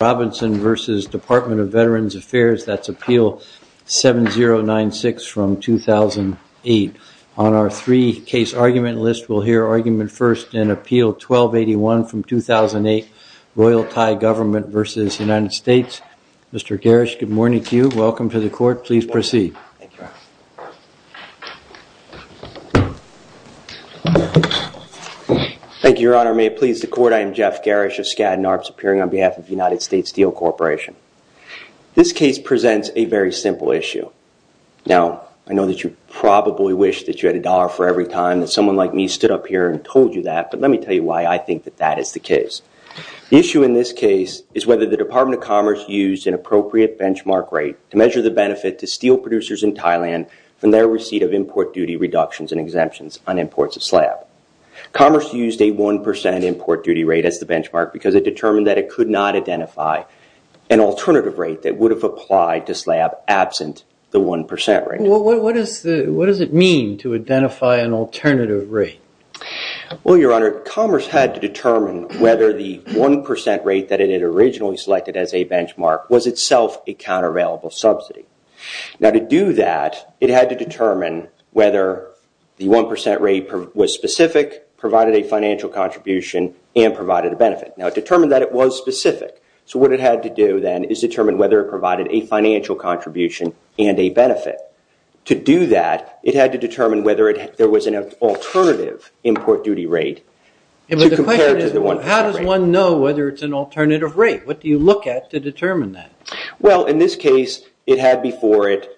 Robinson v. Department of Veterans Affairs. That's Appeal 7096 from 2008. On our three-case argument list, we'll hear argument first in Appeal 1281 from 2008, Royal Thai Government v. United States. Mr. Garish, good morning to you. Welcome to the Court. Please proceed. Thank you, Your Honor. May it please the Court, I am Jeff Garish of Skadden Arps, appearing on behalf of the United States Steel Corporation. This case presents a very simple issue. Now, I know that you probably wish that you had a dollar for every time that someone like me stood up here and told you that, but let me tell you why I think that that is the case. The issue in this case is whether the Department of Commerce used an appropriate benchmark rate to measure the benefit to steel producers in Thailand from their receipt of import duty reductions and exemptions on imports of slab. Commerce used a 1% import duty rate as the it could not identify an alternative rate that would have applied to slab absent the 1% rate. What does it mean to identify an alternative rate? Well, Your Honor, Commerce had to determine whether the 1% rate that it had originally selected as a benchmark was itself a countervailable subsidy. Now, to do that, it had to determine whether the 1% rate was specific, provided a financial contribution, and provided a benefit. Now, it determined that it was specific, so what it had to do then is determine whether it provided a financial contribution and a benefit. To do that, it had to determine whether there was an alternative import duty rate to compare to the 1%. How does one know whether it's an alternative rate? What do you look at to determine that? Well, in this case, it had before it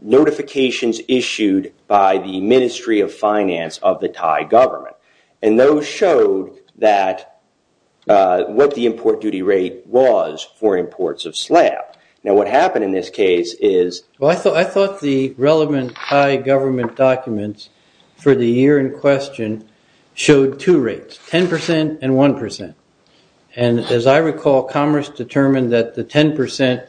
notifications issued by the Ministry of Finance of the Thai government, and those showed that what the import duty rate was for imports of slab. Now, what happened in this case is... Well, I thought the relevant Thai government documents for the year in question showed two rates, 10% and 1%. And as I recall, Commerce determined that the 10%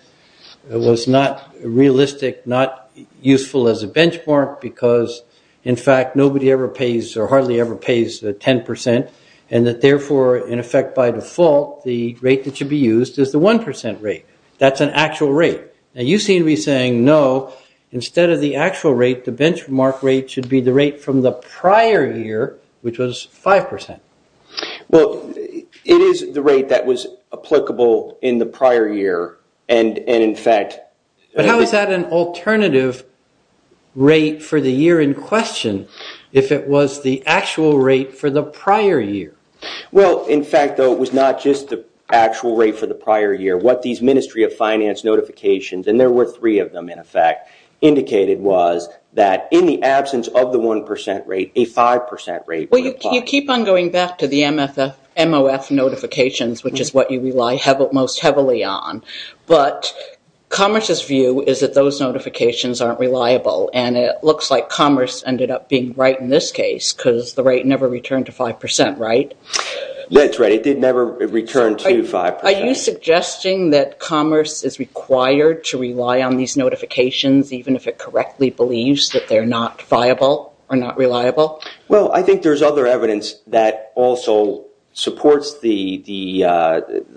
was not realistic, not useful as a benchmark because, in fact, it hardly ever pays the 10%, and that therefore, in effect, by default, the rate that should be used is the 1% rate. That's an actual rate. Now, you seem to be saying, no, instead of the actual rate, the benchmark rate should be the rate from the prior year, which was 5%. Well, it is the rate that was applicable in the prior year, and in fact... But how is that an alternative rate for the year in question if it was the actual rate for the prior year? Well, in fact, though, it was not just the actual rate for the prior year. What these Ministry of Finance notifications, and there were three of them, in effect, indicated was that in the absence of the 1% rate, a 5% rate... Well, you keep on going back to the MOF notifications, which is what you rely most heavily on, but Commerce's view is that those notifications aren't reliable, and it looks like Commerce ended up being right in this case because the rate never returned to 5%, right? That's right. It did never return to 5%. Are you suggesting that Commerce is required to rely on these notifications even if it correctly believes that they're not viable or not reliable? Well, I think there's other evidence that also supports the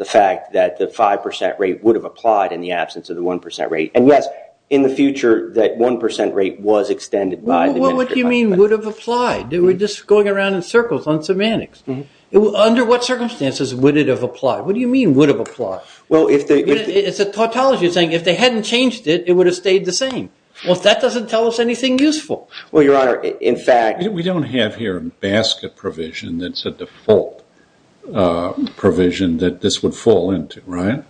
fact that the 5% rate would have applied in the absence of the 1% rate. And yes, in the future, that 1% rate was extended by the Ministry of Finance. Well, what do you mean would have applied? We're just going around in circles on semantics. Under what circumstances would it have applied? What do you mean would have applied? It's a tautology thing. If they hadn't changed it, it would have stayed the same. Well, that doesn't tell us anything useful. Well, Your Honor, in fact... We don't have here a basket provision that's a default provision that this would fall into, right?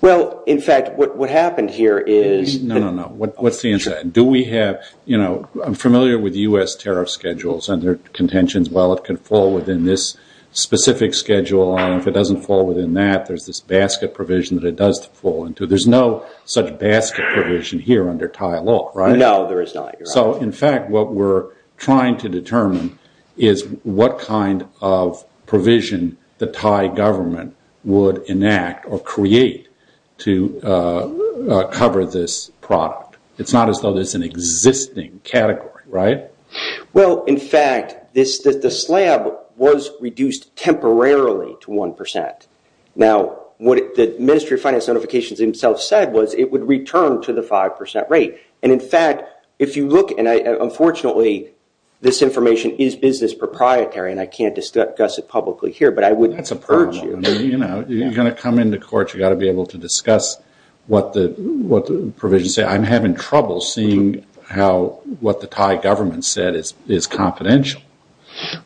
Well, in fact, what happened here is... No, no, no. What's the answer? Do we have... I'm familiar with US tariff schedules and their contentions. Well, it can fall within this specific schedule, and if it doesn't fall within that, there's this basket provision that it does fall into. There's no such basket provision here under Thai law, right? No, there is not, Your Honor. So, in fact, what we're trying to determine is what kind of provision the Thai government would enact or create to cover this product. It's not as though there's an existing category, right? Well, in fact, the slab was reduced temporarily to 1%. Now, what the Ministry of Finance himself said was it would return to the 5% rate. And, in fact, if you look... And, unfortunately, this information is business proprietary, and I can't discuss it publicly here, but I would... That's a purge, Your Honor. You're going to come into court, you got to be able to discuss what the provisions say. I'm having trouble seeing what the Thai government said is confidential.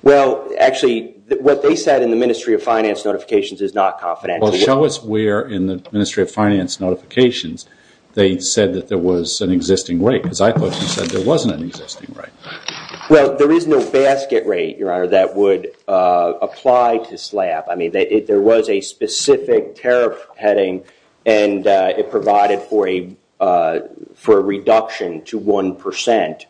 Well, actually, what they said in the Ministry of Finance notifications is not confidential. Well, show us where in the Ministry of Finance notifications they said that there was an existing rate. Because I thought you said there wasn't an existing rate. Well, there is no basket rate, Your Honor, that would apply to slab. I mean, there was a specific tariff heading, and it provided for a reduction to 1%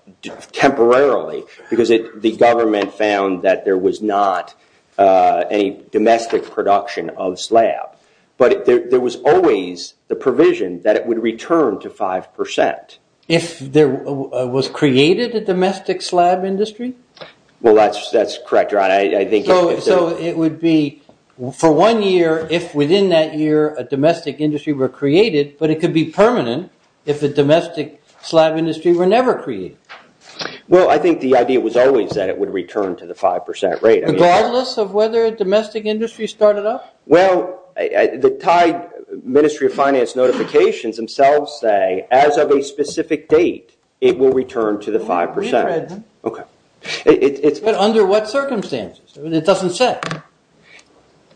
temporarily because the government found that there was not any domestic production of slab. But there was always the provision that it would return to 5%. If there was created a domestic slab industry? Well, that's correct, Your Honor. I think... So it would be for one year if within that year a domestic industry were created, but it could be permanent if a domestic slab industry were Regardless of whether a domestic industry started up? Well, the Thai Ministry of Finance notifications themselves say as of a specific date, it will return to the 5%. Okay. Under what circumstances? It doesn't say.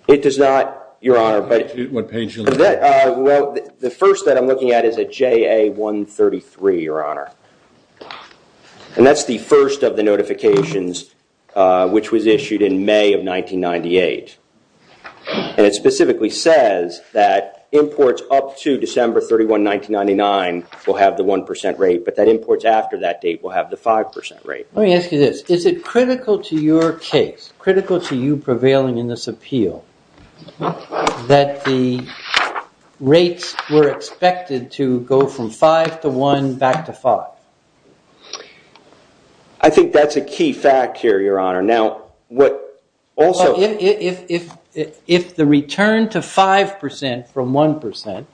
It does not, Your Honor. Well, the first that I'm looking at is a JA-133, Your Honor. And that's the first of the notifications which was issued in May of 1998. And it specifically says that imports up to December 31, 1999 will have the 1% rate, but that imports after that date will have the 5% rate. Let me ask you this. Is it critical to your case, critical to you prevailing in this appeal, that the rates were expected to go from 5% to 1% back to 5%? I think that's a key fact here, Your Honor. Now, what also... If the return to 5% from 1%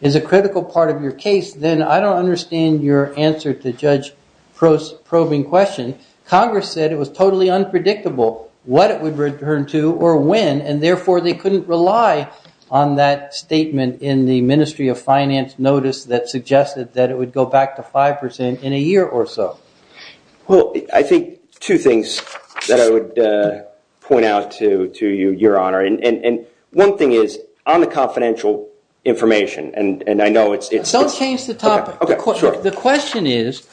is a critical part of your case, then I don't understand your answer to Judge Probing's question. Congress said it was totally unpredictable what it would return to or when, and therefore, they couldn't rely on that statement in the Ministry of Finance notice that suggested that it would go back to 5% in a year or so. Well, I think two things that I would point out to you, Your Honor. And one thing is, on the confidential information, and I know it's... Don't change the topic. Okay, sure. The question is,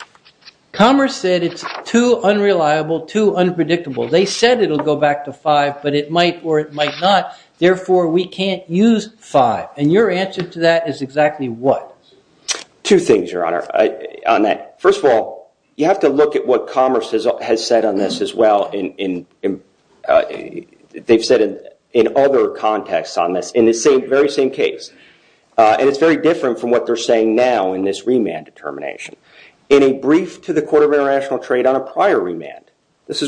Congress said it's too unreliable, too unpredictable. They said it'll go back to 5%, but it might or it might not. Therefore, we can't use 5%. And your answer to that is exactly what? Two things, Your Honor. First of all, you have to look at what Congress has said on this as well. They've said in other contexts on this in the very same case. And it's very different from what they're saying now in this remand determination. In a brief to the Court of That's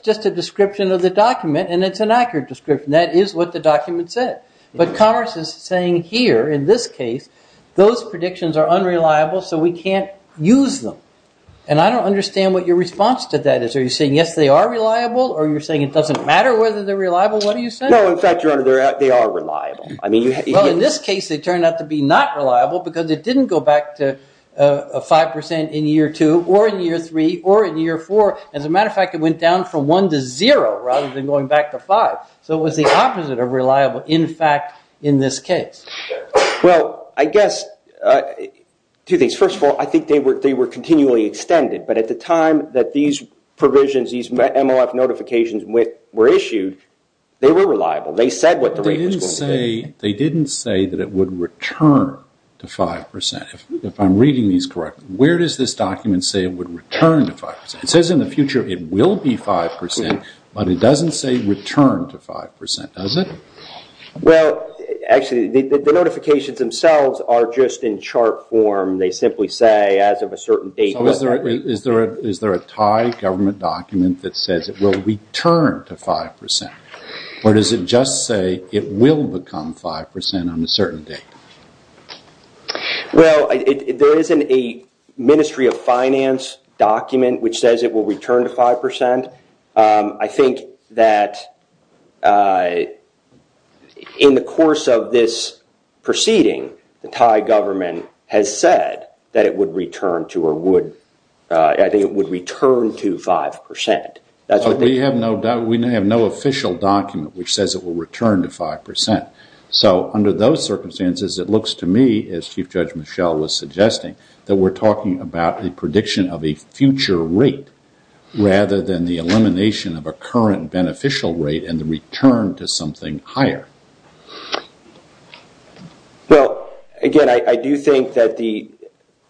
just a description of the document, and it's an accurate description. That is what the document said. But Congress is saying here, in this case, those predictions are unreliable, so we can't use them. And I don't understand what your response to that is. Are you saying, yes, they are reliable? Or you're saying it doesn't matter whether they're reliable? No, in fact, Your Honor, they are reliable. Well, in this case, they turned out to be not reliable because it didn't go back to 5% in year two or in year three or in year four. As a matter of fact, it went down from one to zero rather than going back to five. So it was the opposite of reliable, in fact, in this case. Well, I guess two things. First of all, I think they were continually extended. But at the time that these provisions, these MLF notifications, were issued, they were reliable. They said what the rate was going to be. They didn't say that it would return to 5%. If I'm reading these correctly, where does this document say it would return to 5%? It says in the future it will be 5%, but it doesn't say return to 5%, does it? Well, actually, the notifications themselves are just in chart form. They simply say, as of a certain date... Is there a Thai government document that says it will return to 5% or does it just say it will become 5% on a certain date? Well, there isn't a Ministry of Finance document which says it will return to 5%. I think that in the course of this proceeding, the Thai government has said that it would return to 5%. We have no official document which says it will return to 5%. So under those circumstances, it looks to me, as Chief Judge Michel was suggesting, that we're talking about the prediction of a future rate rather than the elimination of a current beneficial rate and return to something higher. Well, again, I do think that the...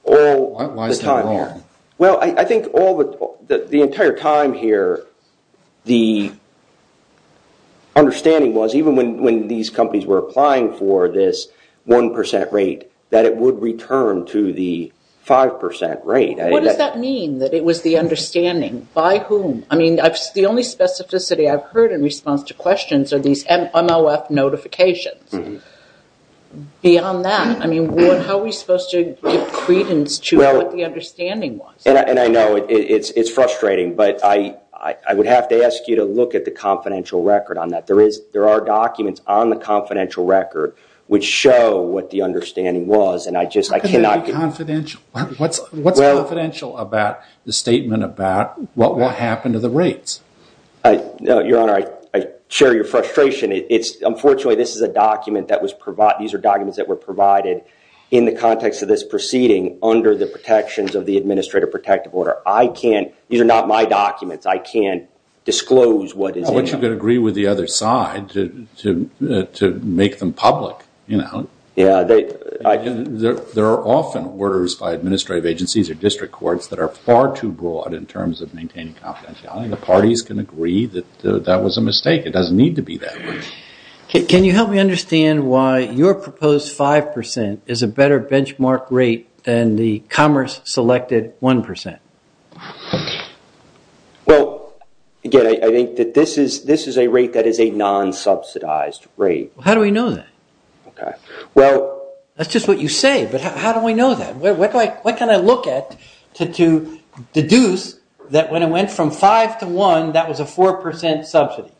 Why is that wrong? Well, I think the entire time here, the understanding was, even when these companies were applying for this 1% rate, that it would return to the 5% rate. What does that mean, that it was the questions or these MOF notifications? Beyond that, how are we supposed to give credence to what the understanding was? And I know it's frustrating, but I would have to ask you to look at the confidential record on that. There are documents on the confidential record which show what the understanding was, and I just... How can that be confidential? What's confidential about the statement about what will happen to the rates? Your Honor, I share your frustration. Unfortunately, this is a document that was... These are documents that were provided in the context of this proceeding under the protections of the Administrative Protective Order. I can't... These are not my documents. I can't disclose what is in them. I want you to agree with the other side to make them public. There are often orders by administrative agencies or district courts that are far too broad in terms of maintaining confidentiality. The parties can agree that that was a mistake. It doesn't need to be that way. Can you help me understand why your proposed 5% is a better benchmark rate than the commerce-selected 1%? Well, again, I think that this is a rate that is a non-subsidized rate. How do we know that? Okay. Well... That's just what you say, but how do we know that? What can I look at to deduce that when it went from 5 to 1, that was a 4% subsidy?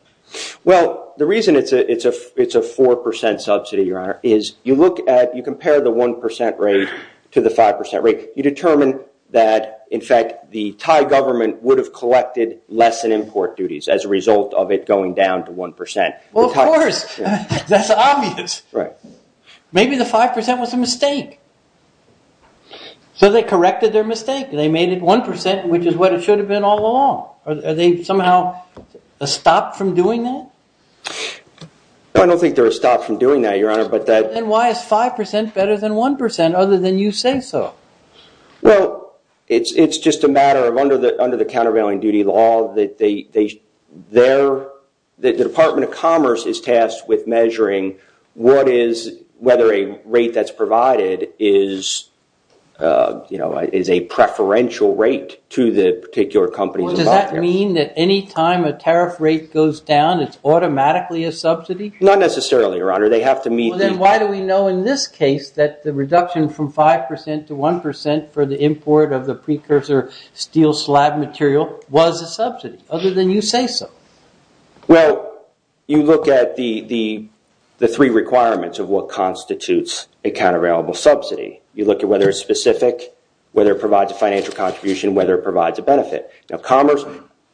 Well, the reason it's a 4% subsidy, Your Honor, is you look at... You compare the 1% rate to the 5% rate. You determine that, in fact, the Thai government would have collected less in import duties as a result of it going down to 1%. Well, of course. That's obvious. Maybe the 5% was a mistake. So they corrected their mistake. They made it 1%, which is what it should have been all along. Are they somehow stopped from doing that? I don't think they're stopped from doing that, Your Honor, but that... Then why is 5% better than 1% other than you say so? Well, it's just a matter of under the countervailing duty law, the Department of Commerce is tasked with measuring whether a rate that's provided is a preferential rate to the particular company. Well, does that mean that any time a tariff rate goes down, it's automatically a subsidy? Not necessarily, Your Honor. They have to meet the... Then why do we know in this case that the reduction from 5% to 1% for the import of the precursor steel slab material was a subsidy other than you say so? Well, you look at the three requirements of what constitutes a countervailable subsidy. You look at whether it's specific, whether it provides a financial contribution, whether it provides a benefit. Now, commerce,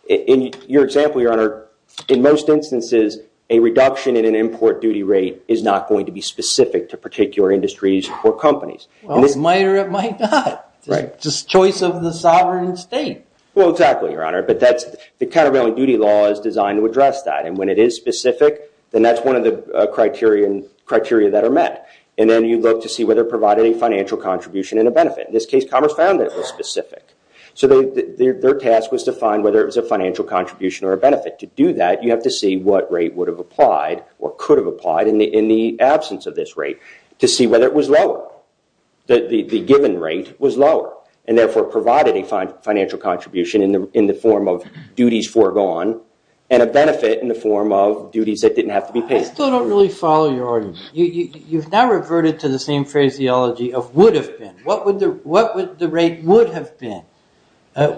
in your example, Your Honor, in most instances, a reduction in an import duty rate is not going to be specific to particular industries or companies. It might or it might not. It's a choice of the sovereign state. Well, exactly, Your Honor. But that's the countervailing duty law is designed to address that. And when it is specific, then that's one of the criteria that are met. And then you look to see whether it provided a financial contribution and a benefit. In this case, commerce found that it was specific. So their task was to find whether it was a financial contribution or a benefit. To do that, you have to see what rate would have applied or could have applied in the absence of this rate to see whether it was lower, that the given rate was lower and therefore provided a financial contribution in the form of duties foregone and a benefit in the form of duties that didn't have to be paid. I still don't really follow your argument. You've now reverted to the same phraseology of would have been. What would the rate would have been?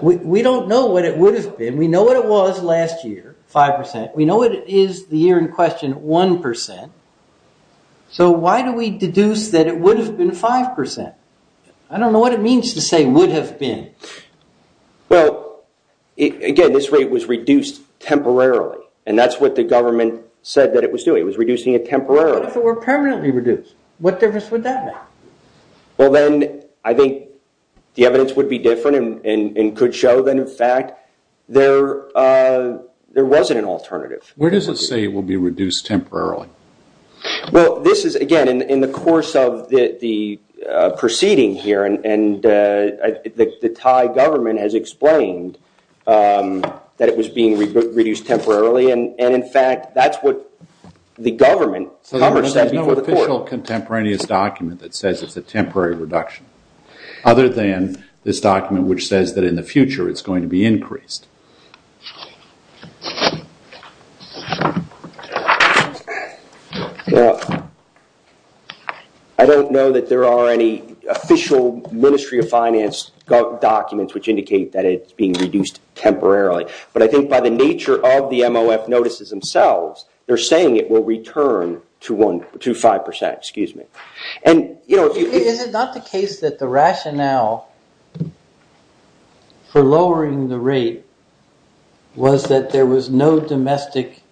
We don't know what it would have been. We know what it was last year, 5%. We know it is the year in question, 1%. So why do we deduce that it would have been 5%? I don't know what it means to say would have been. Well, again, this rate was reduced temporarily. And that's what the government said that it was doing. It was reducing it temporarily. But if it were permanently reduced, what difference would that make? Well, then I think the evidence would be different and could show that, in fact, there wasn't an alternative. Where does it say it will be reduced temporarily? Well, this is, again, in the course of the proceeding here, and the Thai government has explained that it was being reduced temporarily. And in fact, that's what the government covered. So there's no official contemporaneous document that says it's a temporary reduction other than this document which says that in the future it's going to be increased. Now, I don't know that there are any official Ministry of Finance documents which indicate that it's being reduced temporarily. But I think by the nature of the MOF notices themselves, they're saying it will return to 5%. Excuse me. And, you know... Is it not the case that the rationale for lowering the rate was that there was no domestic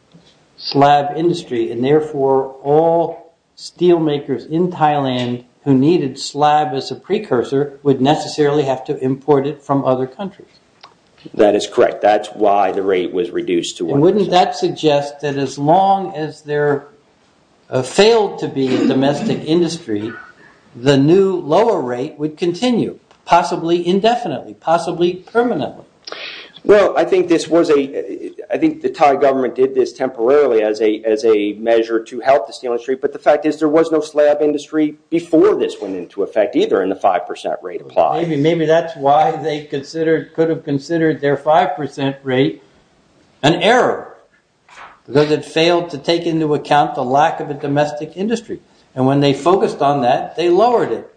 slab industry and therefore all steel makers in Thailand who needed slab as a precursor would necessarily have to import it from other countries? That is correct. That's why the rate was reduced to 1%. Wouldn't that suggest that as long as there failed to be a domestic industry, the new lower rate would continue, possibly indefinitely, possibly permanently? Well, I think the Thai government did this temporarily as a measure to help the steel industry. But the fact is there was no slab industry before this went into effect either and the 5% rate applied. Maybe that's why they could have considered their 5% rate an error because it failed to take into account the lack of a domestic industry. And when they focused on that, they lowered it.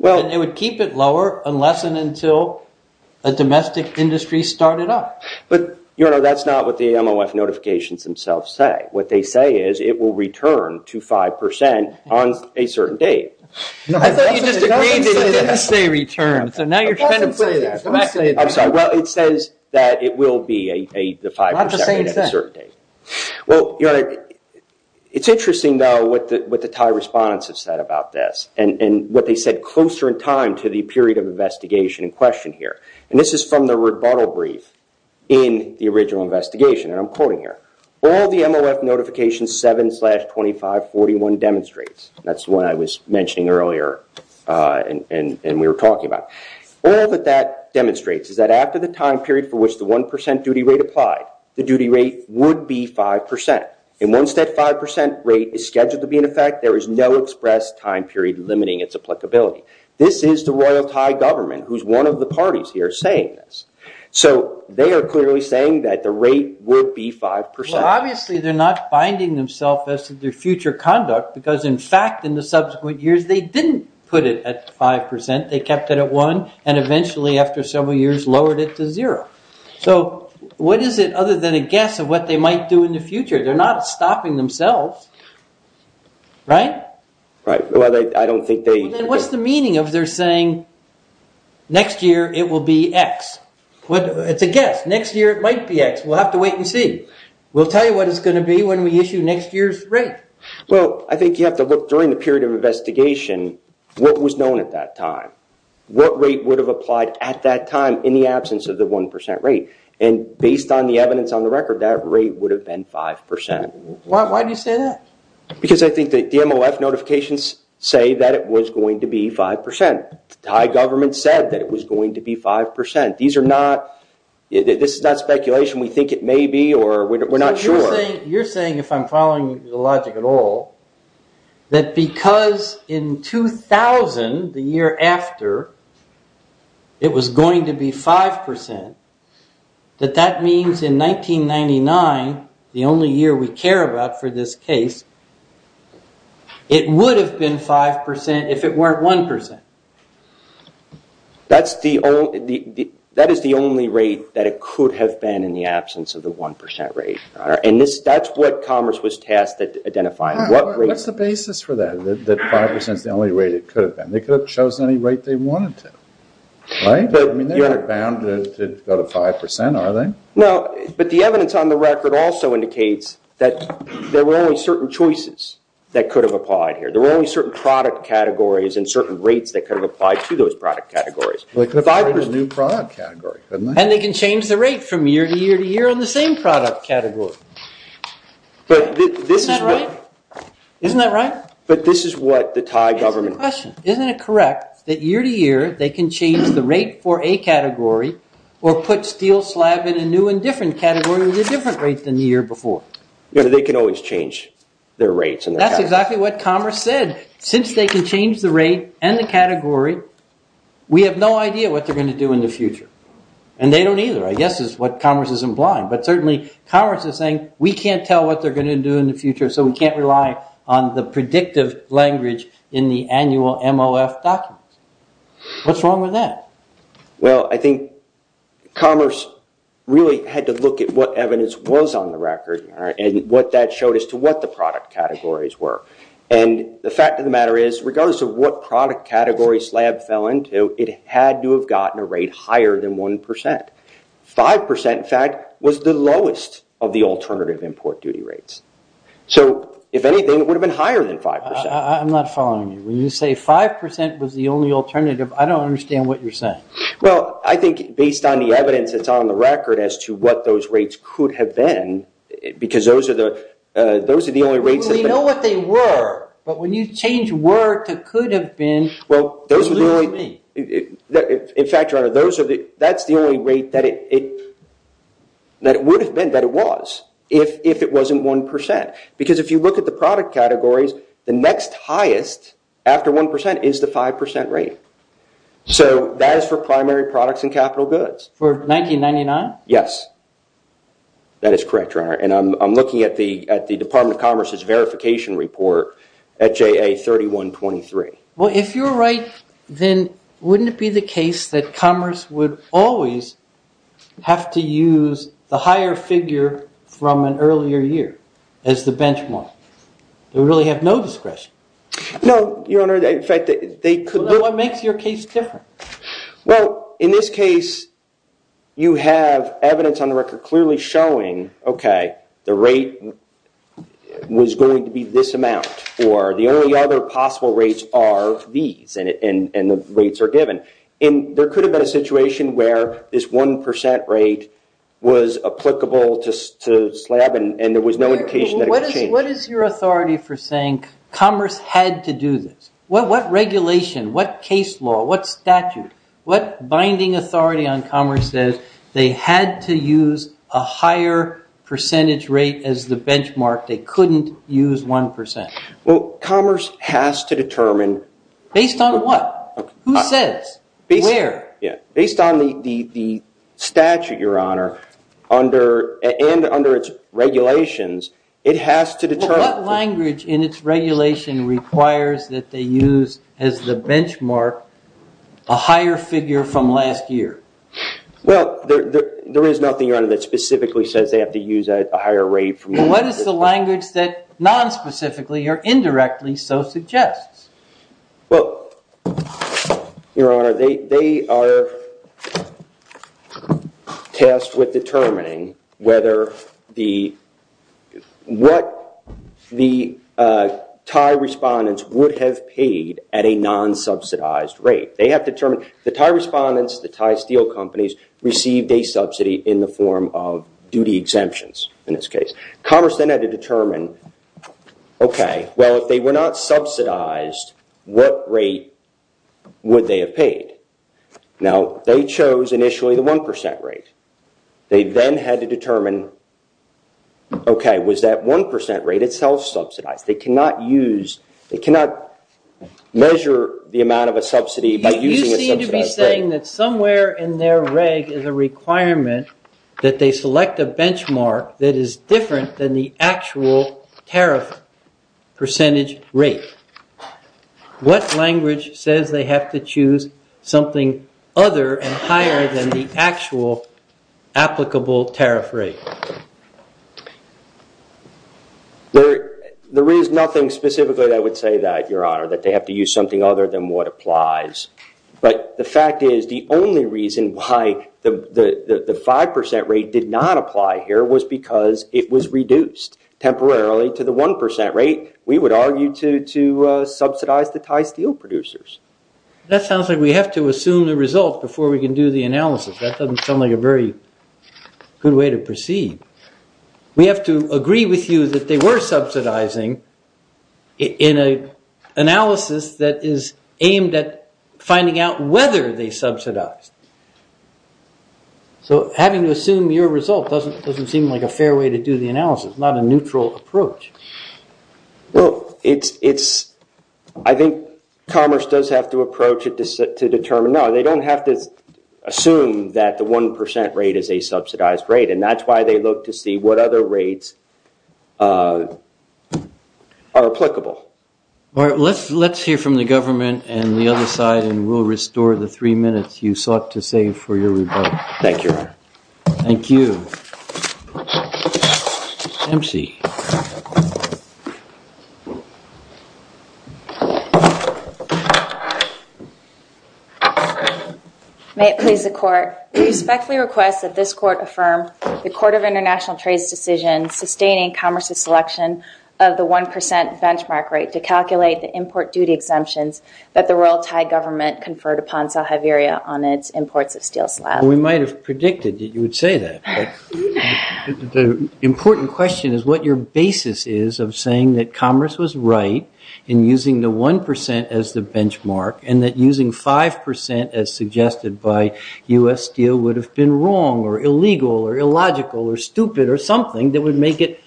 It would keep it lower unless and until a domestic industry started up. But, you know, that's not what the MOF notifications themselves say. What they say is it will return to 5% on a certain date. I thought you just agreed to say return. So now you're trying to put it... I'm sorry. Well, it says that it will be the 5% rate at a certain date. Well, it's interesting, though, what the Thai respondents have said about this and what they said closer in time to the period of investigation in question here. And this is from the rebuttal brief in the original investigation. And I'm quoting here. All the MOF notification 7-2541 demonstrates. That's the one I was mentioning earlier and we were talking about. All that that demonstrates is that after the time period for which the 1% duty rate applied, the duty rate would be 5%. And once that 5% rate is scheduled to be in effect, there is no express time period limiting its applicability. This is the Royal Thai government, who's one of the parties here saying this. So they are clearly saying that the rate would be 5%. Well, obviously, they're not binding themselves as to their future conduct, because in fact, in the subsequent years, they didn't put it at 5%. They kept it at 1% and eventually, after several years, lowered it to zero. So what is it other than a guess of what they might do in the future? They're not stopping themselves, right? Right. Well, I don't think they... What's the meaning of their saying, next year, it will be X? It's a guess. Next year, it might be X. We'll have to wait and see. We'll tell you what it's going to be when we issue next year's rate. Well, I think you have to look during the period of investigation, what was known at that time, what rate would have applied at that time in the absence of the 1% rate. And based on the evidence on the record, that rate would have been 5%. Why do you say that? Because I think the DMOF notifications say that it was going to be 5%. Thai government said that it was going to be 5%. This is not speculation. We think it may be, or we're not sure. You're saying, if I'm following the logic at all, that because in 2000, the year after, it was going to be 5%, that that means in 1999, the only year we care about for this case, it would have been 5% if it weren't 1%. That is the only rate that it could have been in the absence of the 1% rate. What's the basis for that, that 5% is the only rate it could have been? They could have chosen any rate they wanted to, right? I mean, they're not bound to go to 5%, are they? But the evidence on the record also indicates that there were only certain choices that could have applied here. There were only certain product categories and certain rates that could have applied to those product categories. Well, they could have created a new product category, couldn't they? And they can change the rate from year to year to year on the same product category. Isn't that right? But this is what the Thai government... That's the question. Isn't it correct that year to year, they can change the rate for a category or put steel slab in a new and different category with a different rate than the year before? They can always change their rates and their categories. That's exactly what Commerce said. Since they can change the rate and the category, we have no idea what they're going to do in the future. And they don't either, I guess is what Commerce is implying. But certainly, Commerce is saying, we can't tell what they're going to do in the future, so we can't rely on the predictive language in the annual MOF documents. What's wrong with that? Well, I think Commerce really had to look at what evidence was on the record and what that showed as to what the product categories were. And the fact of the matter is, regardless of what product category slab fell into, it had to have gotten a rate higher than 1%. 5%, in fact, was the lowest of the alternative import duty rates. So if anything, it would have been higher than 5%. I'm not following you. When you say 5% was the only alternative, I don't understand what you're saying. Well, I think based on the evidence that's on the record as to what those rates could have been, because those are the only rates that- We know what they were. But when you change were to could have been, you lose me. In fact, your honor, that's the only rate that it would have been, that it was, if it wasn't 1%. Because if you look at the product categories, the next highest after 1% is the 5% rate. So that is for primary products and capital goods. For 1999? Yes. That is correct, your honor. And I'm looking at the Department of Commerce's verification report at JA 3123. If you're right, then wouldn't it be the case that commerce would always have to use the higher figure from an earlier year as the benchmark? They really have no discretion. No, your honor. In fact, they could- What makes your case different? Well, in this case, you have evidence on the record clearly showing, okay, the rate was going to be this amount, or the only other possible rates are these, and the rates are given. And there could have been a situation where this 1% rate was applicable to slab, and there was no indication that it would change. What is your authority for saying commerce had to do this? What regulation, what case law, what statute, what binding authority on commerce says they had to use a higher percentage rate as the benchmark, they couldn't use 1%? Well, commerce has to determine- Based on what? Who says? Where? Yeah. Based on the statute, your honor, and under its regulations, it has to determine- What language in its regulation requires that they use as the benchmark a higher figure from last year? Well, there is nothing, your honor, that specifically says they have to use a higher rate. What is the language that non-specifically or indirectly so suggests? Well, your honor, they are tasked with determining whether the- what the Thai respondents would have paid at a non-subsidized rate. They have to determine- The Thai respondents, the Thai steel companies, received a subsidy in the form of duty exemptions in this case. Commerce then had to determine, okay, well, if they were not subsidized, what rate would they have paid? Now, they chose initially the 1% rate. They then had to determine, okay, was that 1% rate itself subsidized? They cannot use- They cannot measure the amount of a subsidy by using a subsidized rate. You seem to be saying that somewhere in their reg is a requirement that they select a benchmark that is different than the actual tariff percentage rate. What language says they have to choose something other and higher than the actual applicable tariff rate? There is nothing specifically that would say that, your honor, that they have to use something other than what applies. But the fact is, the only reason why the 5% rate did not apply here was because it was reduced temporarily to the 1% rate. We would argue to subsidize the Thai steel producers. That sounds like we have to assume the result before we can do the analysis. That doesn't sound like a very good way to proceed. We have to agree with you that they were subsidizing in an analysis that is aimed at finding out whether they subsidized. Having to assume your result doesn't seem like a fair way to do the analysis, not a neutral approach. I think commerce does have to approach it to determine- No, they don't have to assume that the 1% rate is a subsidized rate. That's why they look to see what other rates are applicable. Let's hear from the government and the other side, and we'll restore the three minutes you sought to save for your rebuttal. Thank you, your honor. Thank you. May it please the court, we respectfully request that this court affirm the Court of International Trade's decision sustaining commerce's selection of the 1% benchmark rate to calculate the import duty exemptions that the Royal Thai government conferred upon Sao Haveria on its imports of steel slab. We might have predicted that you would say that. The important question is what your basis is of saying that commerce was right in using the 1% as the benchmark, and that using 5% as suggested by U.S. Steel would have been wrong, or illegal, or illogical, or stupid, or something that would make it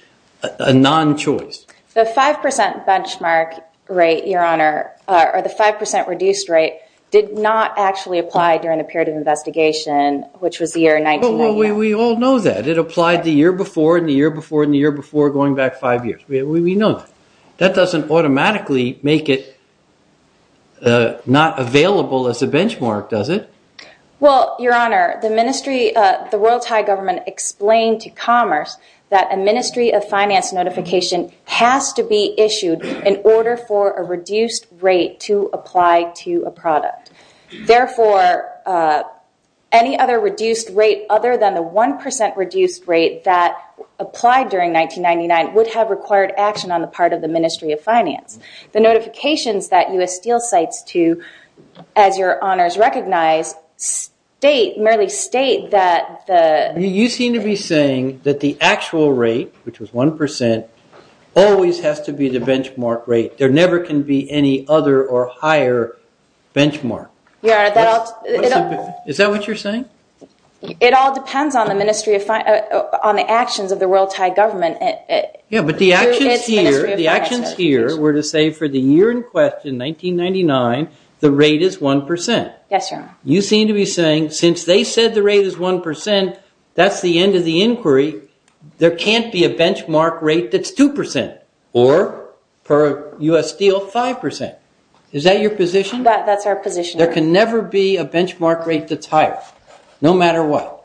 a non-choice. The 5% benchmark rate, your honor, or the 5% reduced rate did not actually apply during the period of investigation, which was the year 1999. We all know that. It applied the year before, and the year before, and the year before, going back five years. We know that. That doesn't automatically make it not available as a benchmark, does it? Well, your honor, the Royal Thai government explained to commerce that a Ministry of Finance notification has to be issued in order for a reduced rate to apply to a product. Therefore, any other reduced rate other than the 1% reduced rate that applied during 1999 would have required action on the part of the Ministry of Finance. The notifications that U.S. Steel cites to, as your honors recognize, merely state that the... You seem to be saying that the actual rate, which was 1%, always has to be the benchmark rate. There never can be any other or higher benchmark. Is that what you're saying? It all depends on the actions of the Royal Thai government. Yeah, but the actions here were to say for the year in question, 1999, the rate is 1%. Yes, your honor. You seem to be saying since they said the rate is 1%, that's the end of the inquiry. There can't be a benchmark rate that's 2% or per U.S. Steel, 5%. Is that your position? That's our position. There can never be a benchmark rate that's higher. No matter what.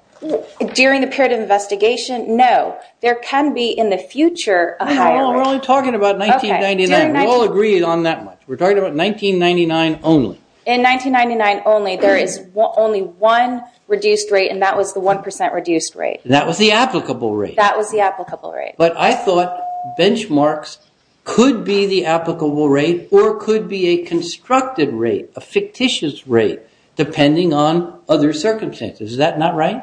During the period of investigation, no. There can be in the future a higher rate. We're only talking about 1999. We all agreed on that much. We're talking about 1999 only. In 1999 only, there is only one reduced rate and that was the 1% reduced rate. That was the applicable rate. That was the applicable rate. But I thought benchmarks could be the applicable rate or could be a constructed rate, a fictitious rate, depending on other circumstances. Is that not right?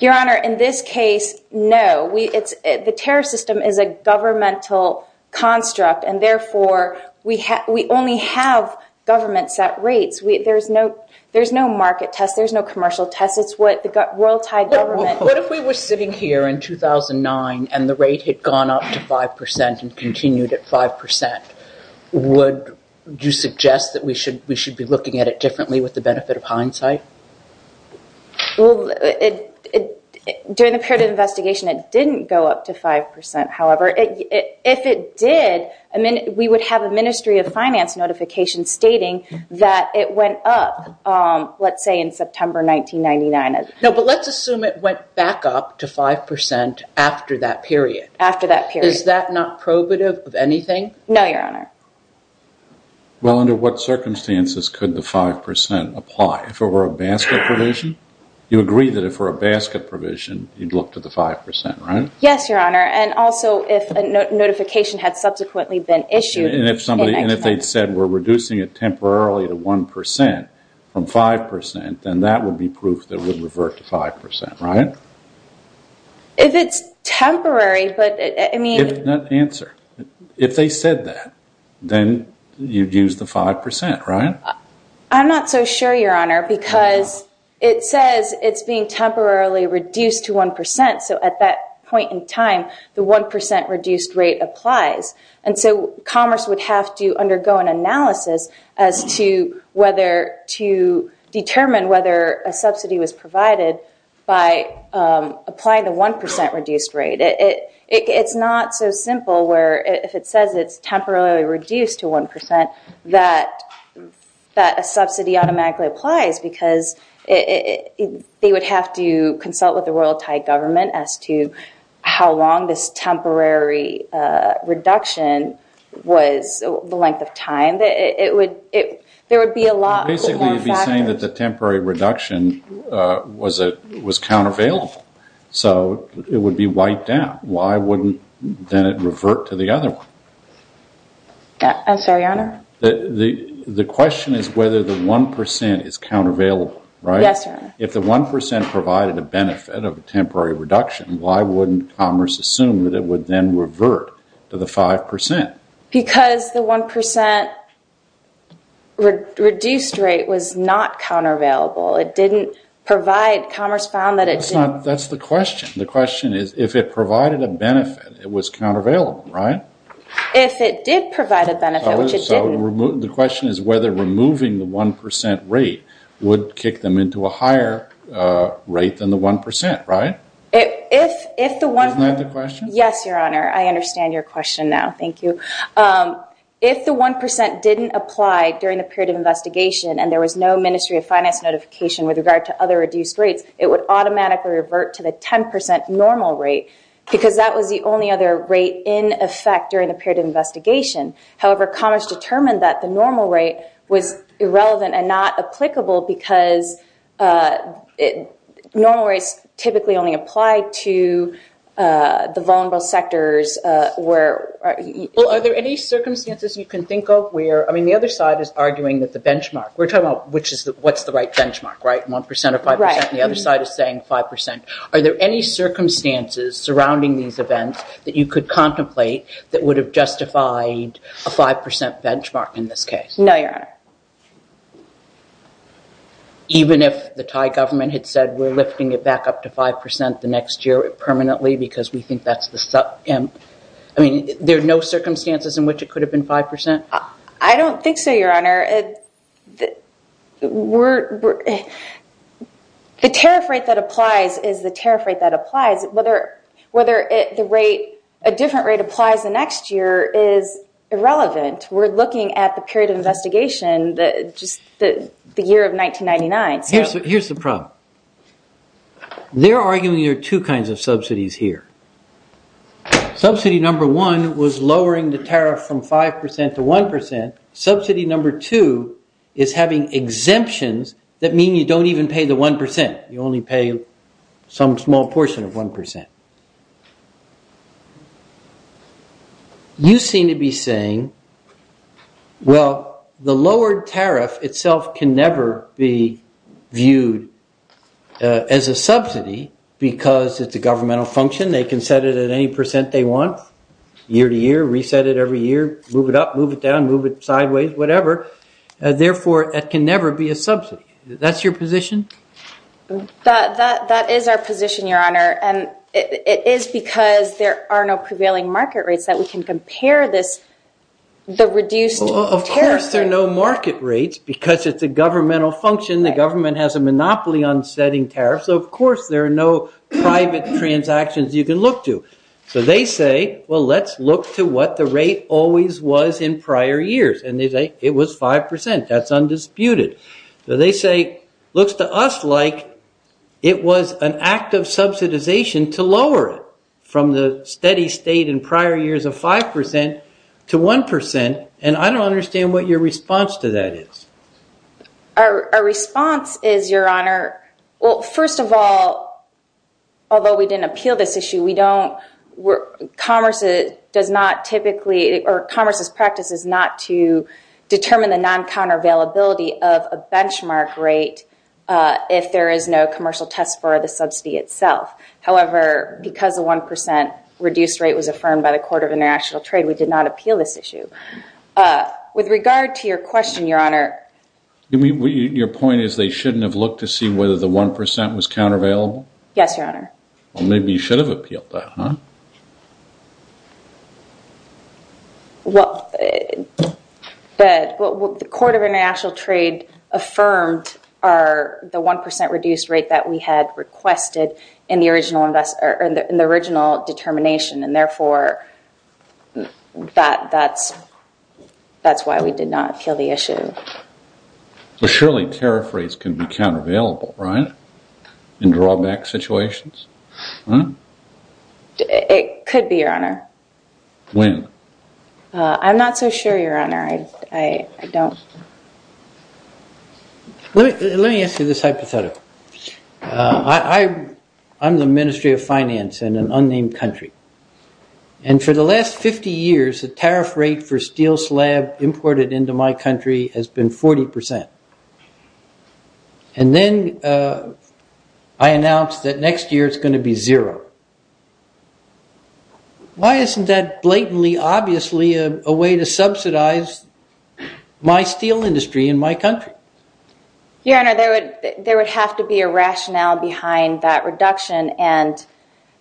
Your honor, in this case, no. The terror system is a governmental construct and therefore we only have government set rates. There's no market test. There's no commercial test. It's what the world tied government. What if we were sitting here in 2009 and the rate had gone up to 5% and continued at 5%? Would you suggest that we should be looking at it differently with the benefit of hindsight? Well, during the period of investigation, it didn't go up to 5%. However, if it did, we would have a Ministry of Finance notification stating that it went up, let's say, in September 1999. No, but let's assume it went back up to 5% after that period. After that period. Is that not probative of anything? No, your honor. Well, under what circumstances could the 5% apply? If it were a basket provision? You agree that if it were a basket provision, you'd look to the 5%, right? Yes, your honor. And also, if a notification had subsequently been issued. And if somebody, and if they'd said, we're reducing it temporarily to 1% from 5%, then that would be proof that it would revert to 5%, right? If it's temporary, but I mean. If not, answer. If they said that, then you'd use the 5%, right? I'm not so sure, your honor. Because it says it's being temporarily reduced to 1%. So at that point in time, the 1% reduced rate applies. And so Commerce would have to undergo an analysis as to whether to determine whether a subsidy was provided by applying the 1% reduced rate. It's not so simple where if it says it's temporarily reduced to 1%, that a subsidy automatically applies. Because they would have to consult with the Royal Thai government as to how long this temporary reduction was, the length of time. There would be a lot more factor. Basically, you'd be saying that the temporary reduction was countervail. So it would be wiped out. Why wouldn't then it revert to the other one? I'm sorry, your honor. The question is whether the 1% is countervail, right? Yes, your honor. If the 1% provided a benefit of a temporary reduction, why wouldn't Commerce assume that it would then revert to the 5%? Because the 1% reduced rate was not countervail. It didn't provide. Commerce found that it didn't. That's the question. The question is if it provided a benefit, it was countervail, right? If it did provide a benefit, which it didn't. The question is whether removing the 1% rate would kick them into a higher rate than the 1%, right? Isn't that the question? Yes, your honor. I understand your question now. Thank you. If the 1% didn't apply during the period of investigation and there was no Ministry of Finance notification with regard to other reduced rates, it would automatically revert to the 10% normal rate because that was the only other rate in effect during the period of investigation. However, Commerce determined that the normal rate was irrelevant and not applicable because normal rates typically only apply to the vulnerable sectors. Are there any circumstances you can think of where, I mean, the other side is arguing that the benchmark, we're talking about what's the right benchmark, right? The other side is saying 5%. Are there any circumstances surrounding these events that you could contemplate that would have justified a 5% benchmark in this case? No, your honor. Even if the Thai government had said, we're lifting it back up to 5% the next year permanently because we think that's the... I mean, there are no circumstances in which it could have been 5%? I don't think so, your honor. The tariff rate that applies is the tariff rate that applies. Whether a different rate applies the next year is irrelevant. We're looking at the period of investigation, just the year of 1999. Here's the problem. They're arguing there are two kinds of subsidies here. Subsidy number one was lowering the tariff from 5% to 1%. Subsidy number two is having exemptions that mean you don't even pay the 1%. You only pay some small portion of 1%. You seem to be saying, well, the lowered tariff itself can never be viewed as a subsidy because it's a governmental function. They can set it at any percent they want, year to year, reset it every year, move it up, move it down, move it sideways, whatever. Therefore, it can never be a subsidy. That's your position? That is our position, your honor. It is because there are no prevailing market rates that we can compare this, the reduced tariff rate. Of course, there are no market rates because it's a governmental function. The government has a monopoly on setting tariffs. Of course, there are no private transactions you can look to. So they say, well, let's look to what the rate always was in prior years. And they say, it was 5%. That's undisputed. So they say, looks to us like it was an act of subsidization to lower it from the steady state in prior years of 5% to 1%. And I don't understand what your response to that is. Our response is, your honor, well, first of all, although we didn't appeal this issue, we don't, commerce does not typically, or commerce's practice is not to determine the non-countervailability of a benchmark rate if there is no commercial test for the subsidy itself. However, because the 1% reduced rate was affirmed by the Court of International Trade, we did not appeal this issue. With regard to your question, your honor. Your point is they shouldn't have looked to see whether the 1% was countervailable? Yes, your honor. Well, maybe you should have appealed that, huh? Well, the Court of International Trade affirmed the 1% reduced rate that we had requested in the original determination. And therefore, that's why we did not appeal the issue. But surely tariff rates can be countervailable, right? It could be, your honor. When? I'm not so sure, your honor. I don't... Let me ask you this hypothetical. I'm the Ministry of Finance in an unnamed country. And for the last 50 years, the tariff rate for steel slab imported into my country has been 40%. And then I announced that next year it's going to be zero. Why isn't that blatantly, obviously, a way to subsidize my steel industry in my country? Your honor, there would have to be a rationale behind that reduction. And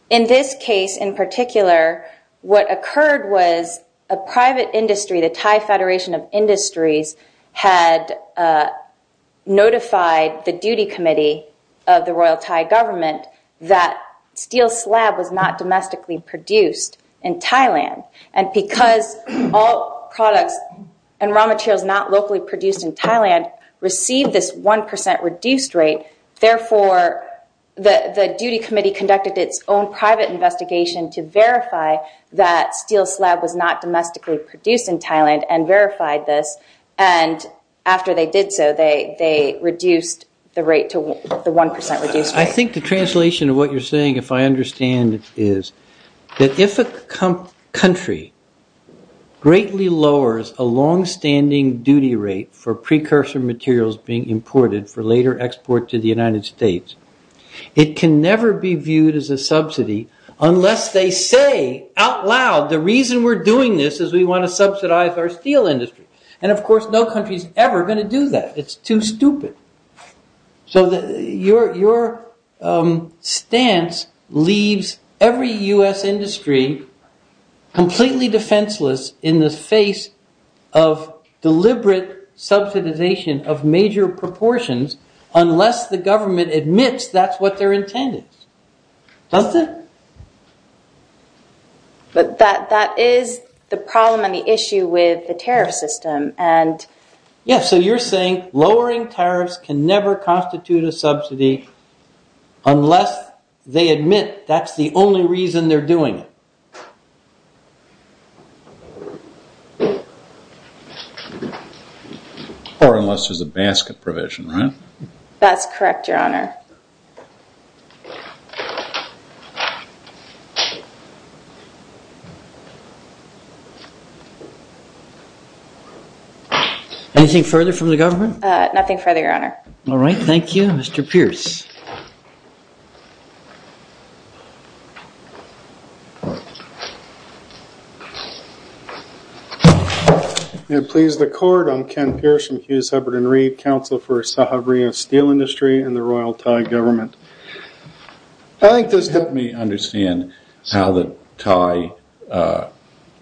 in this case, in particular, what occurred was a private industry, the Thai Federation of Industries, had notified the duty committee of the Royal Thai government that steel slab was not domestically produced in Thailand. And because all products and raw materials not locally produced in Thailand received this 1% reduced rate, therefore, the duty committee conducted its own private investigation to verify that steel slab was not domestically produced in Thailand and verified this. And after they did so, they reduced the rate to the 1% reduced rate. I think the translation of what you're saying, if I understand, is that if a country greatly lowers a longstanding duty rate for precursor materials being imported for later export to the United States, it can never be viewed as a subsidy unless they say out loud, the reason we're doing this is we want to subsidize our steel industry. And of course, no country is ever going to do that. It's too stupid. So your stance leaves every US industry completely defenseless in the face of deliberate subsidization of major proportions unless the government admits that's what they're intended. Doesn't it? But that is the problem and the issue with the tariff system. And yes, so you're saying lowering tariffs can never constitute a subsidy unless they admit that's the only reason they're doing it. Or unless there's a basket provision, right? That's correct, your honor. Anything further from the government? Nothing further, your honor. All right, thank you. Mr. Pierce. May it please the court, I'm Ken Pierce from Hughes, Hubbard & Reed, counsel for Sahabria Steel Industry and the Royal Thai government. I think this helped me understand how the Thai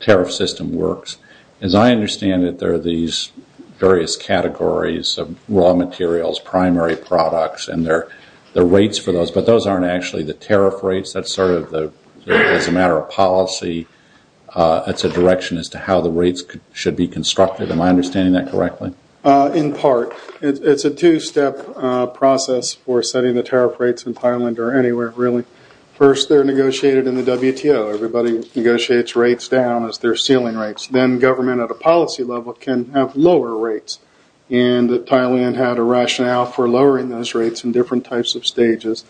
tariff system works. As I understand it, there are these various categories of raw materials, primary products, and there are rates for those, but those aren't actually the tariff rates. That's sort of the, as a matter of policy, that's a direction as to how the rates should be constructed. Am I understanding that correctly? In part, it's a two-step process for setting the tariff rates in Thailand or anywhere, really. First, they're negotiated in the WTO. Everybody negotiates rates down as their ceiling rates. Government, at a policy level, can have lower rates. Thailand had a rationale for lowering those rates in different types of stages,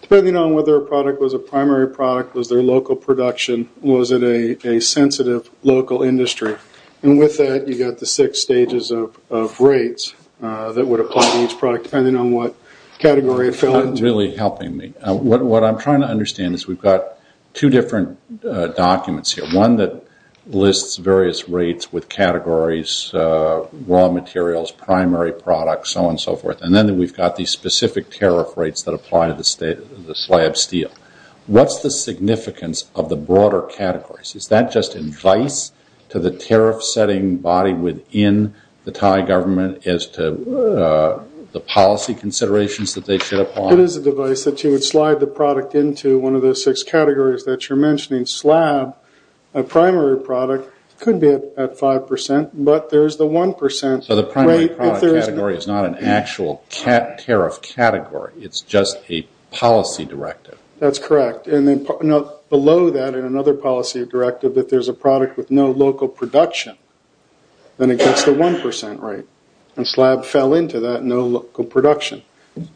depending on whether a product was a primary product, was their local production, was it a sensitive local industry. With that, you got the six stages of rates that would apply to each product, depending on what category it fell into. It's not really helping me. What I'm trying to understand is we've got two different documents here. One that lists various rates with categories, raw materials, primary products, so on and so forth. Then we've got these specific tariff rates that apply to the slab steel. What's the significance of the broader categories? Is that just advice to the tariff-setting body within the Thai government as to the policy considerations It is advice that you would slide the product into one of those six categories that you're mentioning. Slab, a primary product, could be at 5%, but there's the 1% rate. So the primary product category is not an actual tariff category. It's just a policy directive. That's correct. Below that, in another policy directive, if there's a product with no local production, then it gets the 1% rate. Slab fell into that, no local production.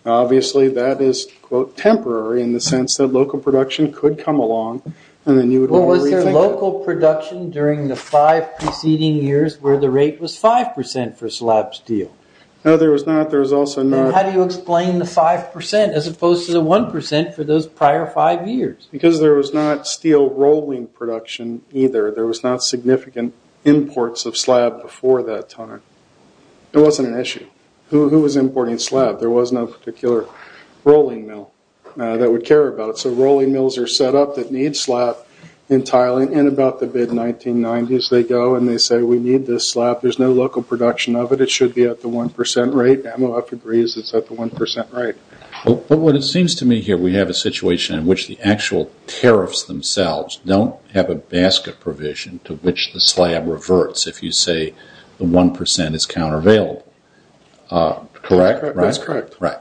Obviously, that is, quote, temporary in the sense that local production could come along and then you would want to rethink it. Was there local production during the five preceding years where the rate was 5% for slab steel? No, there was not. There was also not. How do you explain the 5% as opposed to the 1% for those prior five years? Because there was not steel rolling production either. There was not significant imports of slab before that time. It wasn't an issue. Who was importing slab? There was no particular rolling mill that would care about it. So rolling mills are set up that need slab entirely. In about the mid-1990s, they go and they say, we need this slab. There's no local production of it. It should be at the 1% rate. MOF agrees it's at the 1% rate. But what it seems to me here, we have a situation in which the actual tariffs themselves don't have a basket provision to which the slab reverts if you say the 1% is countervail. Correct? That's correct. Right.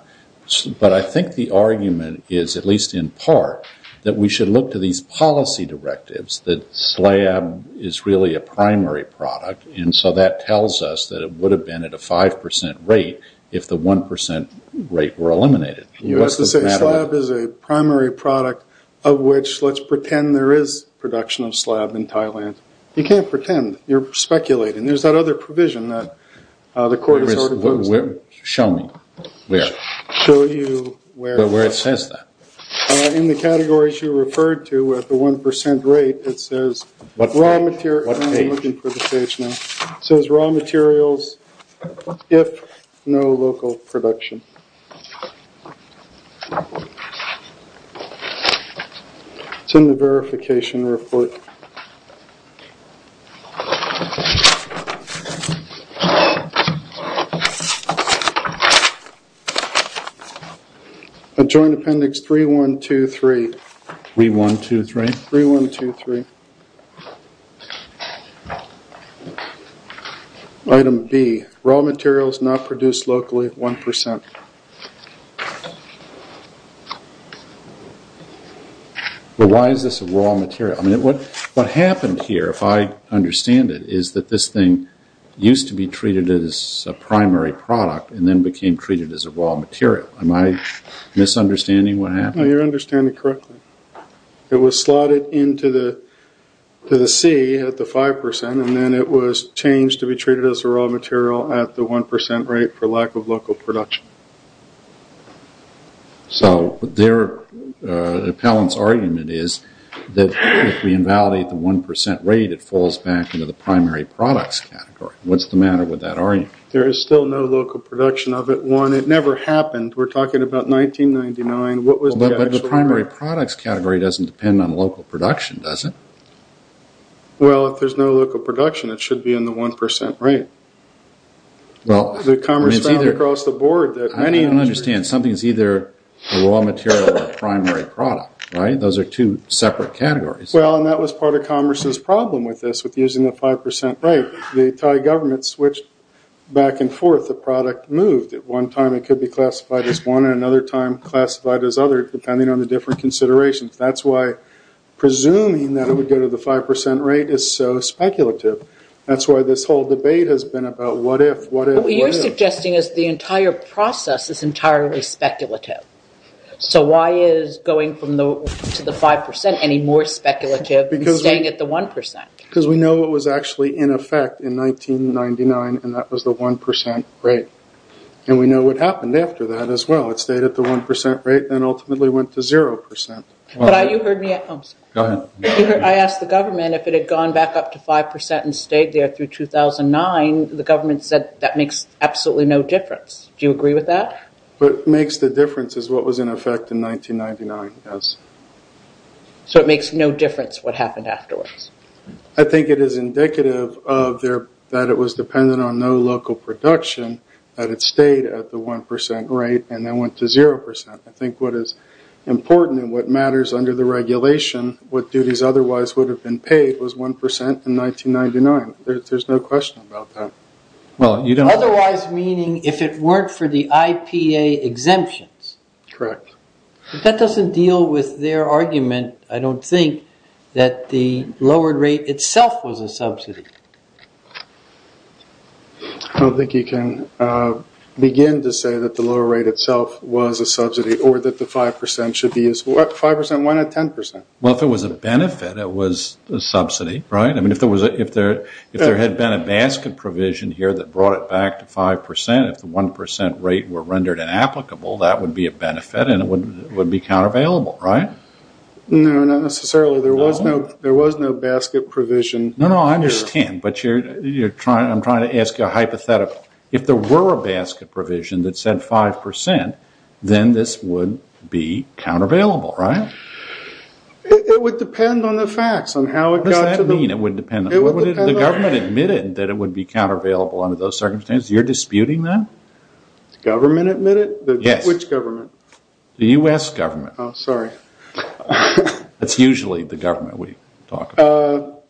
But I think the argument is, at least in part, that we should look to these policy directives that slab is really a primary product. And so that tells us that it would have been at a 5% rate if the 1% rate were eliminated. You have to say slab is a primary product of which let's pretend there is production of slab in Thailand. You can't pretend. You're speculating. There's that other provision that the court has ordered. Show me where. Show you where. Where it says that. In the categories you referred to at the 1% rate, it says raw material. I'm looking for the page now. It says raw materials if no local production. It's in the verification report. A joint appendix 3123. 3123? 3123. Item B, raw materials not produced locally at 1%. But why is this a raw material? What happened here if I understand it is that this thing used to be treated as a primary product and then became treated as a raw material. Am I misunderstanding what happened? No, you're understanding correctly. It was slotted into the C at the 5% and then it was changed to be treated as a raw material at the 1% rate for lack of local production. So their appellant's argument that if we invalidate the 1% rate it falls back into the primary products category. What's the matter with that argument? There is still no local production of it. One, it never happened. We're talking about 1999. But the primary products category doesn't depend on local production, does it? Well, if there's no local production it should be in the 1% rate. I don't understand. Something's either a raw material or a primary product, right? Those are two separate categories. Well, and that was part of Commerce's problem with this, with using the 5% rate. The Thai government switched back and forth. The product moved. At one time it could be classified as one and another time classified as other depending on the different considerations. That's why presuming that it would go to the 5% rate is so speculative. That's why this whole debate has been about what if, what if, what if. What you're suggesting is the entire process is entirely speculative. So why is going to the 5% any more speculative than staying at the 1%? Because we know it was actually in effect in 1999 and that was the 1% rate. And we know what happened after that as well. It stayed at the 1% rate and ultimately went to 0%. I asked the government if it had gone back up to 5% and stayed there through 2009. The government said that makes absolutely no difference. Do you agree with that? What makes the difference is what was in effect in 1999, yes. So it makes no difference what happened afterwards. I think it is indicative of there that it was dependent on no local production that it stayed at the 1% rate and then went to 0%. I think what is important and what matters under the regulation what duties otherwise would have been paid was 1% in 1999. There's no question about that. Otherwise meaning if it weren't for the IPA exemptions. Correct. But that doesn't deal with their argument I don't think that the lowered rate itself was a subsidy. I don't think you can begin to say that the lower rate itself was a subsidy or that the 5% should be useful. 5%, why not 10%? Well, if it was a benefit, it was a subsidy, right? I mean, if there had been a basket provision here that brought it back to 5% if the 1% rate were rendered inapplicable that would be a benefit and it would be countervailable, right? No, not necessarily. There was no basket provision. No, no, I understand, but I'm trying to ask you a hypothetical. If there were a basket provision that said 5% then this would be countervailable, right? It would depend on the facts on how it got to the... What does that mean? It would depend on... The government admitted that it would be countervailable under those circumstances. You're disputing that? The government admitted? Yes. Which government? The U.S. government. Oh, sorry. That's usually the government we talk about.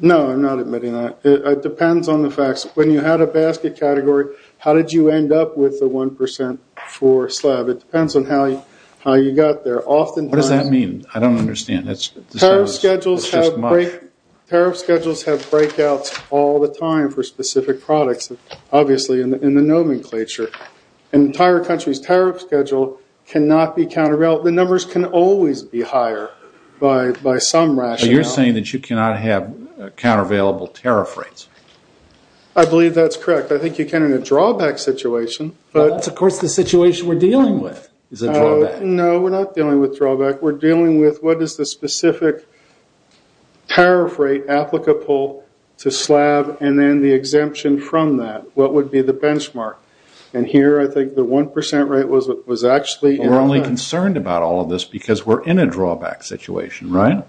No, I'm not admitting that. It depends on the facts. When you had a basket category, how did you end up with the 1% for slab? It depends on how you got there. Oftentimes... What does that mean? I don't understand. Tariff schedules have breakouts all the time for specific products obviously in the nomenclature. An entire country's tariff schedule cannot be countervail... The numbers can always be higher by some rationale. You're saying that you cannot have countervailable tariff rates? I believe that's correct. I think you can in a drawback situation. But of course the situation we're dealing with is a drawback. No, we're not dealing with drawback. We're dealing with what is the specific tariff rate applicable to slab and then the exemption from that? What would be the benchmark? And here I think the 1% rate was actually... We're only concerned about all of this because we're in a drawback situation, right?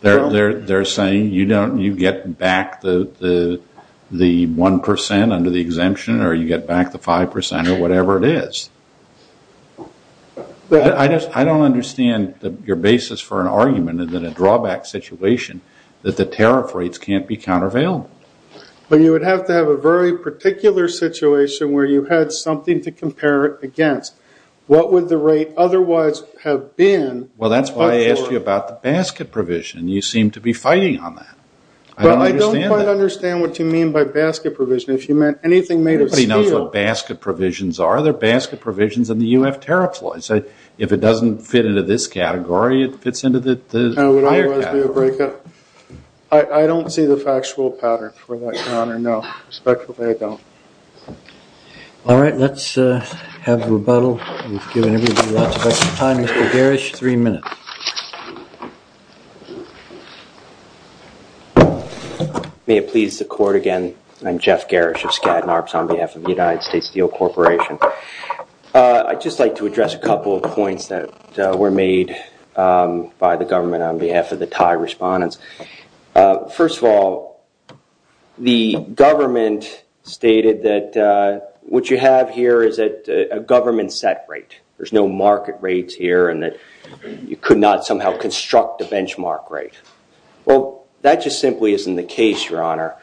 They're saying you get back the 1% under the exemption or you get back the 5% or whatever it is. I don't understand your basis for an argument in a drawback situation that the tariff rates can't be countervail. But you would have to have a very particular situation where you had something to compare it against. What would the rate otherwise have been? Well, that's why I asked you about the basket provision. You seem to be fighting on that. But I don't quite understand what you mean by basket provision. If you meant anything made of steel... Everybody knows what basket provisions are. They're basket provisions in the UF tariff law. So if it doesn't fit into this category, it fits into the higher category. Higher category. I don't see the factual pattern for that, Connor. No, respectfully, I don't. All right, let's have rebuttal. We've given everybody lots of extra time. Mr. Garish, three minutes. May it please the court again. I'm Jeff Garish of Skadden Arps on behalf of the United States Steel Corporation. I'd just like to address a couple of points that were made by the government. On behalf of the Thai respondents. First of all, the government stated that what you have here is a government set rate. There's no market rates here and that you could not somehow construct a benchmark rate. Well, that just simply isn't the case, Your Honor.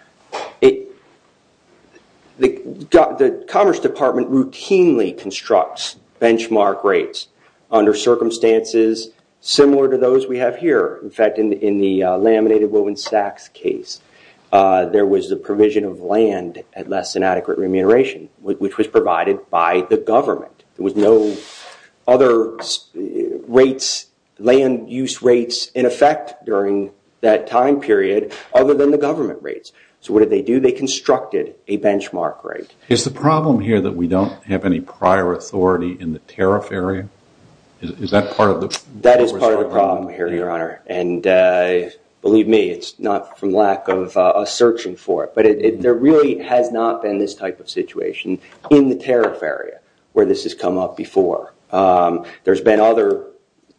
The Commerce Department routinely constructs benchmark rates under circumstances similar to those we have here. In fact, in the laminated women's tax case, there was the provision of land at less than adequate remuneration, which was provided by the government. There was no other rates, land use rates in effect during that time period other than the government rates. So what did they do? They constructed a benchmark rate. Is the problem here that we don't have any prior authority in the tariff area? Is that part of it? That is part of the problem here, Your Honor. And believe me, it's not from lack of searching for it. But there really has not been this type of situation in the tariff area where this has come up before. There's been other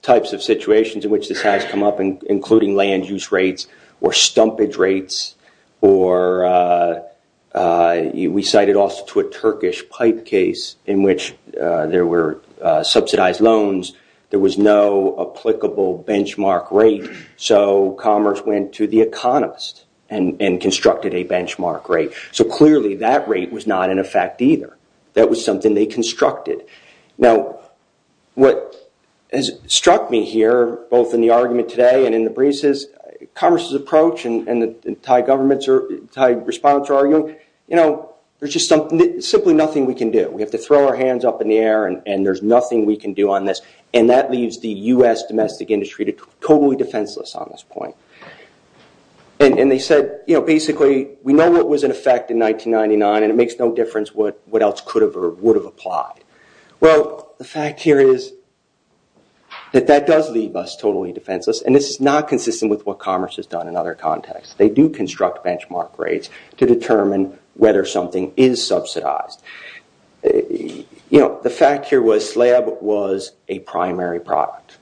types of situations in which this has come up, including land use rates or stumpage rates, or we cited also to a Turkish pipe case in which there were subsidized loans. There was no applicable benchmark rate. So commerce went to the economist and constructed a benchmark rate. So clearly, that rate was not in effect either. That was something they constructed. Now, what has struck me here, both in the argument today and in the briefs, is commerce's approach and the Thai governments or Thai respondents are arguing, you know, there's just something, simply nothing we can do. We have to throw our hands up in the air and there's nothing we can do on this. And that leaves the US domestic industry totally defenseless on this point. And they said, you know, basically, we know what was in effect in 1999 and it makes no difference what else could have or would have applied. Well, the fact here is that that does leave us totally defenseless. And this is not consistent with what commerce has done in other contexts. They do construct benchmark rates to determine whether something is subsidized. You know, the fact here was slab was a primary product.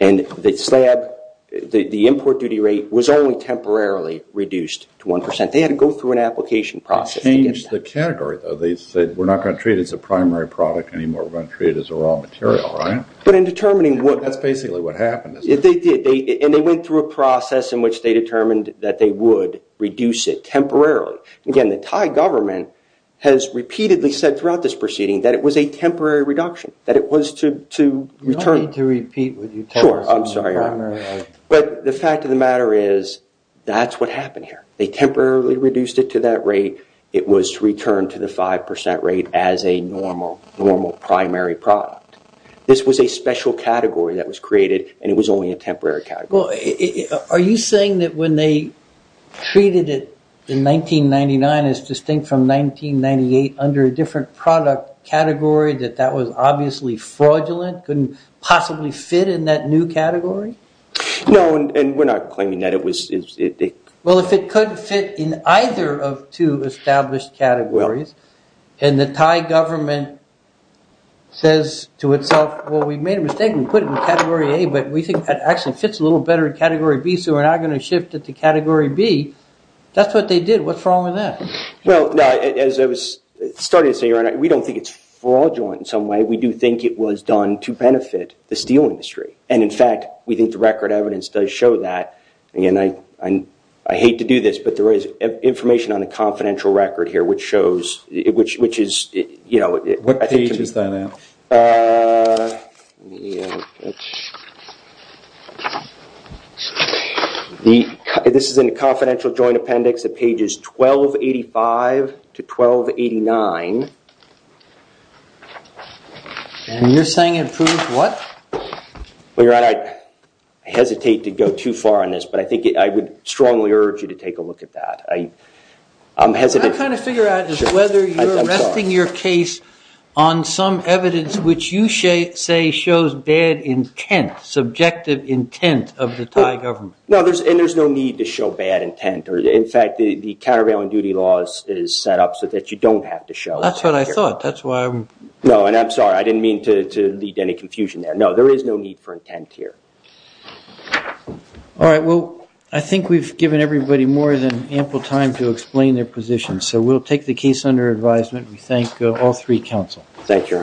And the slab, the import duty rate, was only temporarily reduced to 1%. They had to go through an application process. They changed the category though. They said, we're not going to treat it as a primary product anymore. We're going to treat it as a raw material, right? But in determining what... That's basically what happened. And they went through a process in which they determined that they would reduce it temporarily. Again, the Thai government has repeatedly said throughout this proceeding that it was a temporary reduction, that it was to return... You don't need to repeat what you tell us. Sure, I'm sorry. But the fact of the matter is that's what happened here. They temporarily reduced it to that rate. It was returned to the 5% rate as a normal, normal primary product. This was a special category that was created and it was only a temporary category. Are you saying that when they treated it in 1999 as distinct from 1998 under a different product category, that that was obviously fraudulent? Couldn't possibly fit in that new category? No, and we're not claiming that it was... Well, if it couldn't fit in either of two established categories and the Thai government says to itself, well, we made a mistake and put it in category A, but we think that actually fits a little better in category B, so we're not going to shift it to category B. That's what they did. What's wrong with that? Well, as I was starting to say, we don't think it's fraudulent in some way. We do think it was done to benefit the steel industry. And in fact, we think the record evidence does show that. Again, I hate to do this, but there is information on the confidential record here, which shows, which is... What page is that at? This is in the confidential joint appendix of pages 1285 to 1289. And you're saying it proves what? Well, Your Honor, I hesitate to go too far on this, but I think I would strongly urge you to take a look at that. I'm hesitant. I'm trying to figure out just whether you're resting your case on some evidence which you say shows bad intent, subjective intent of the Thai government. No, and there's no need to show bad intent. In fact, the countervailing duty laws is set up so that you don't have to show. That's what I thought. That's why I'm... No, and I'm sorry. I didn't mean to lead any confusion there. No, there is no need for intent here. All right. Well, I think we've given everybody more than ample time to explain their position. So we'll take the case under advisement. We thank all three counsel. Thank you, Your Honor. Thank you.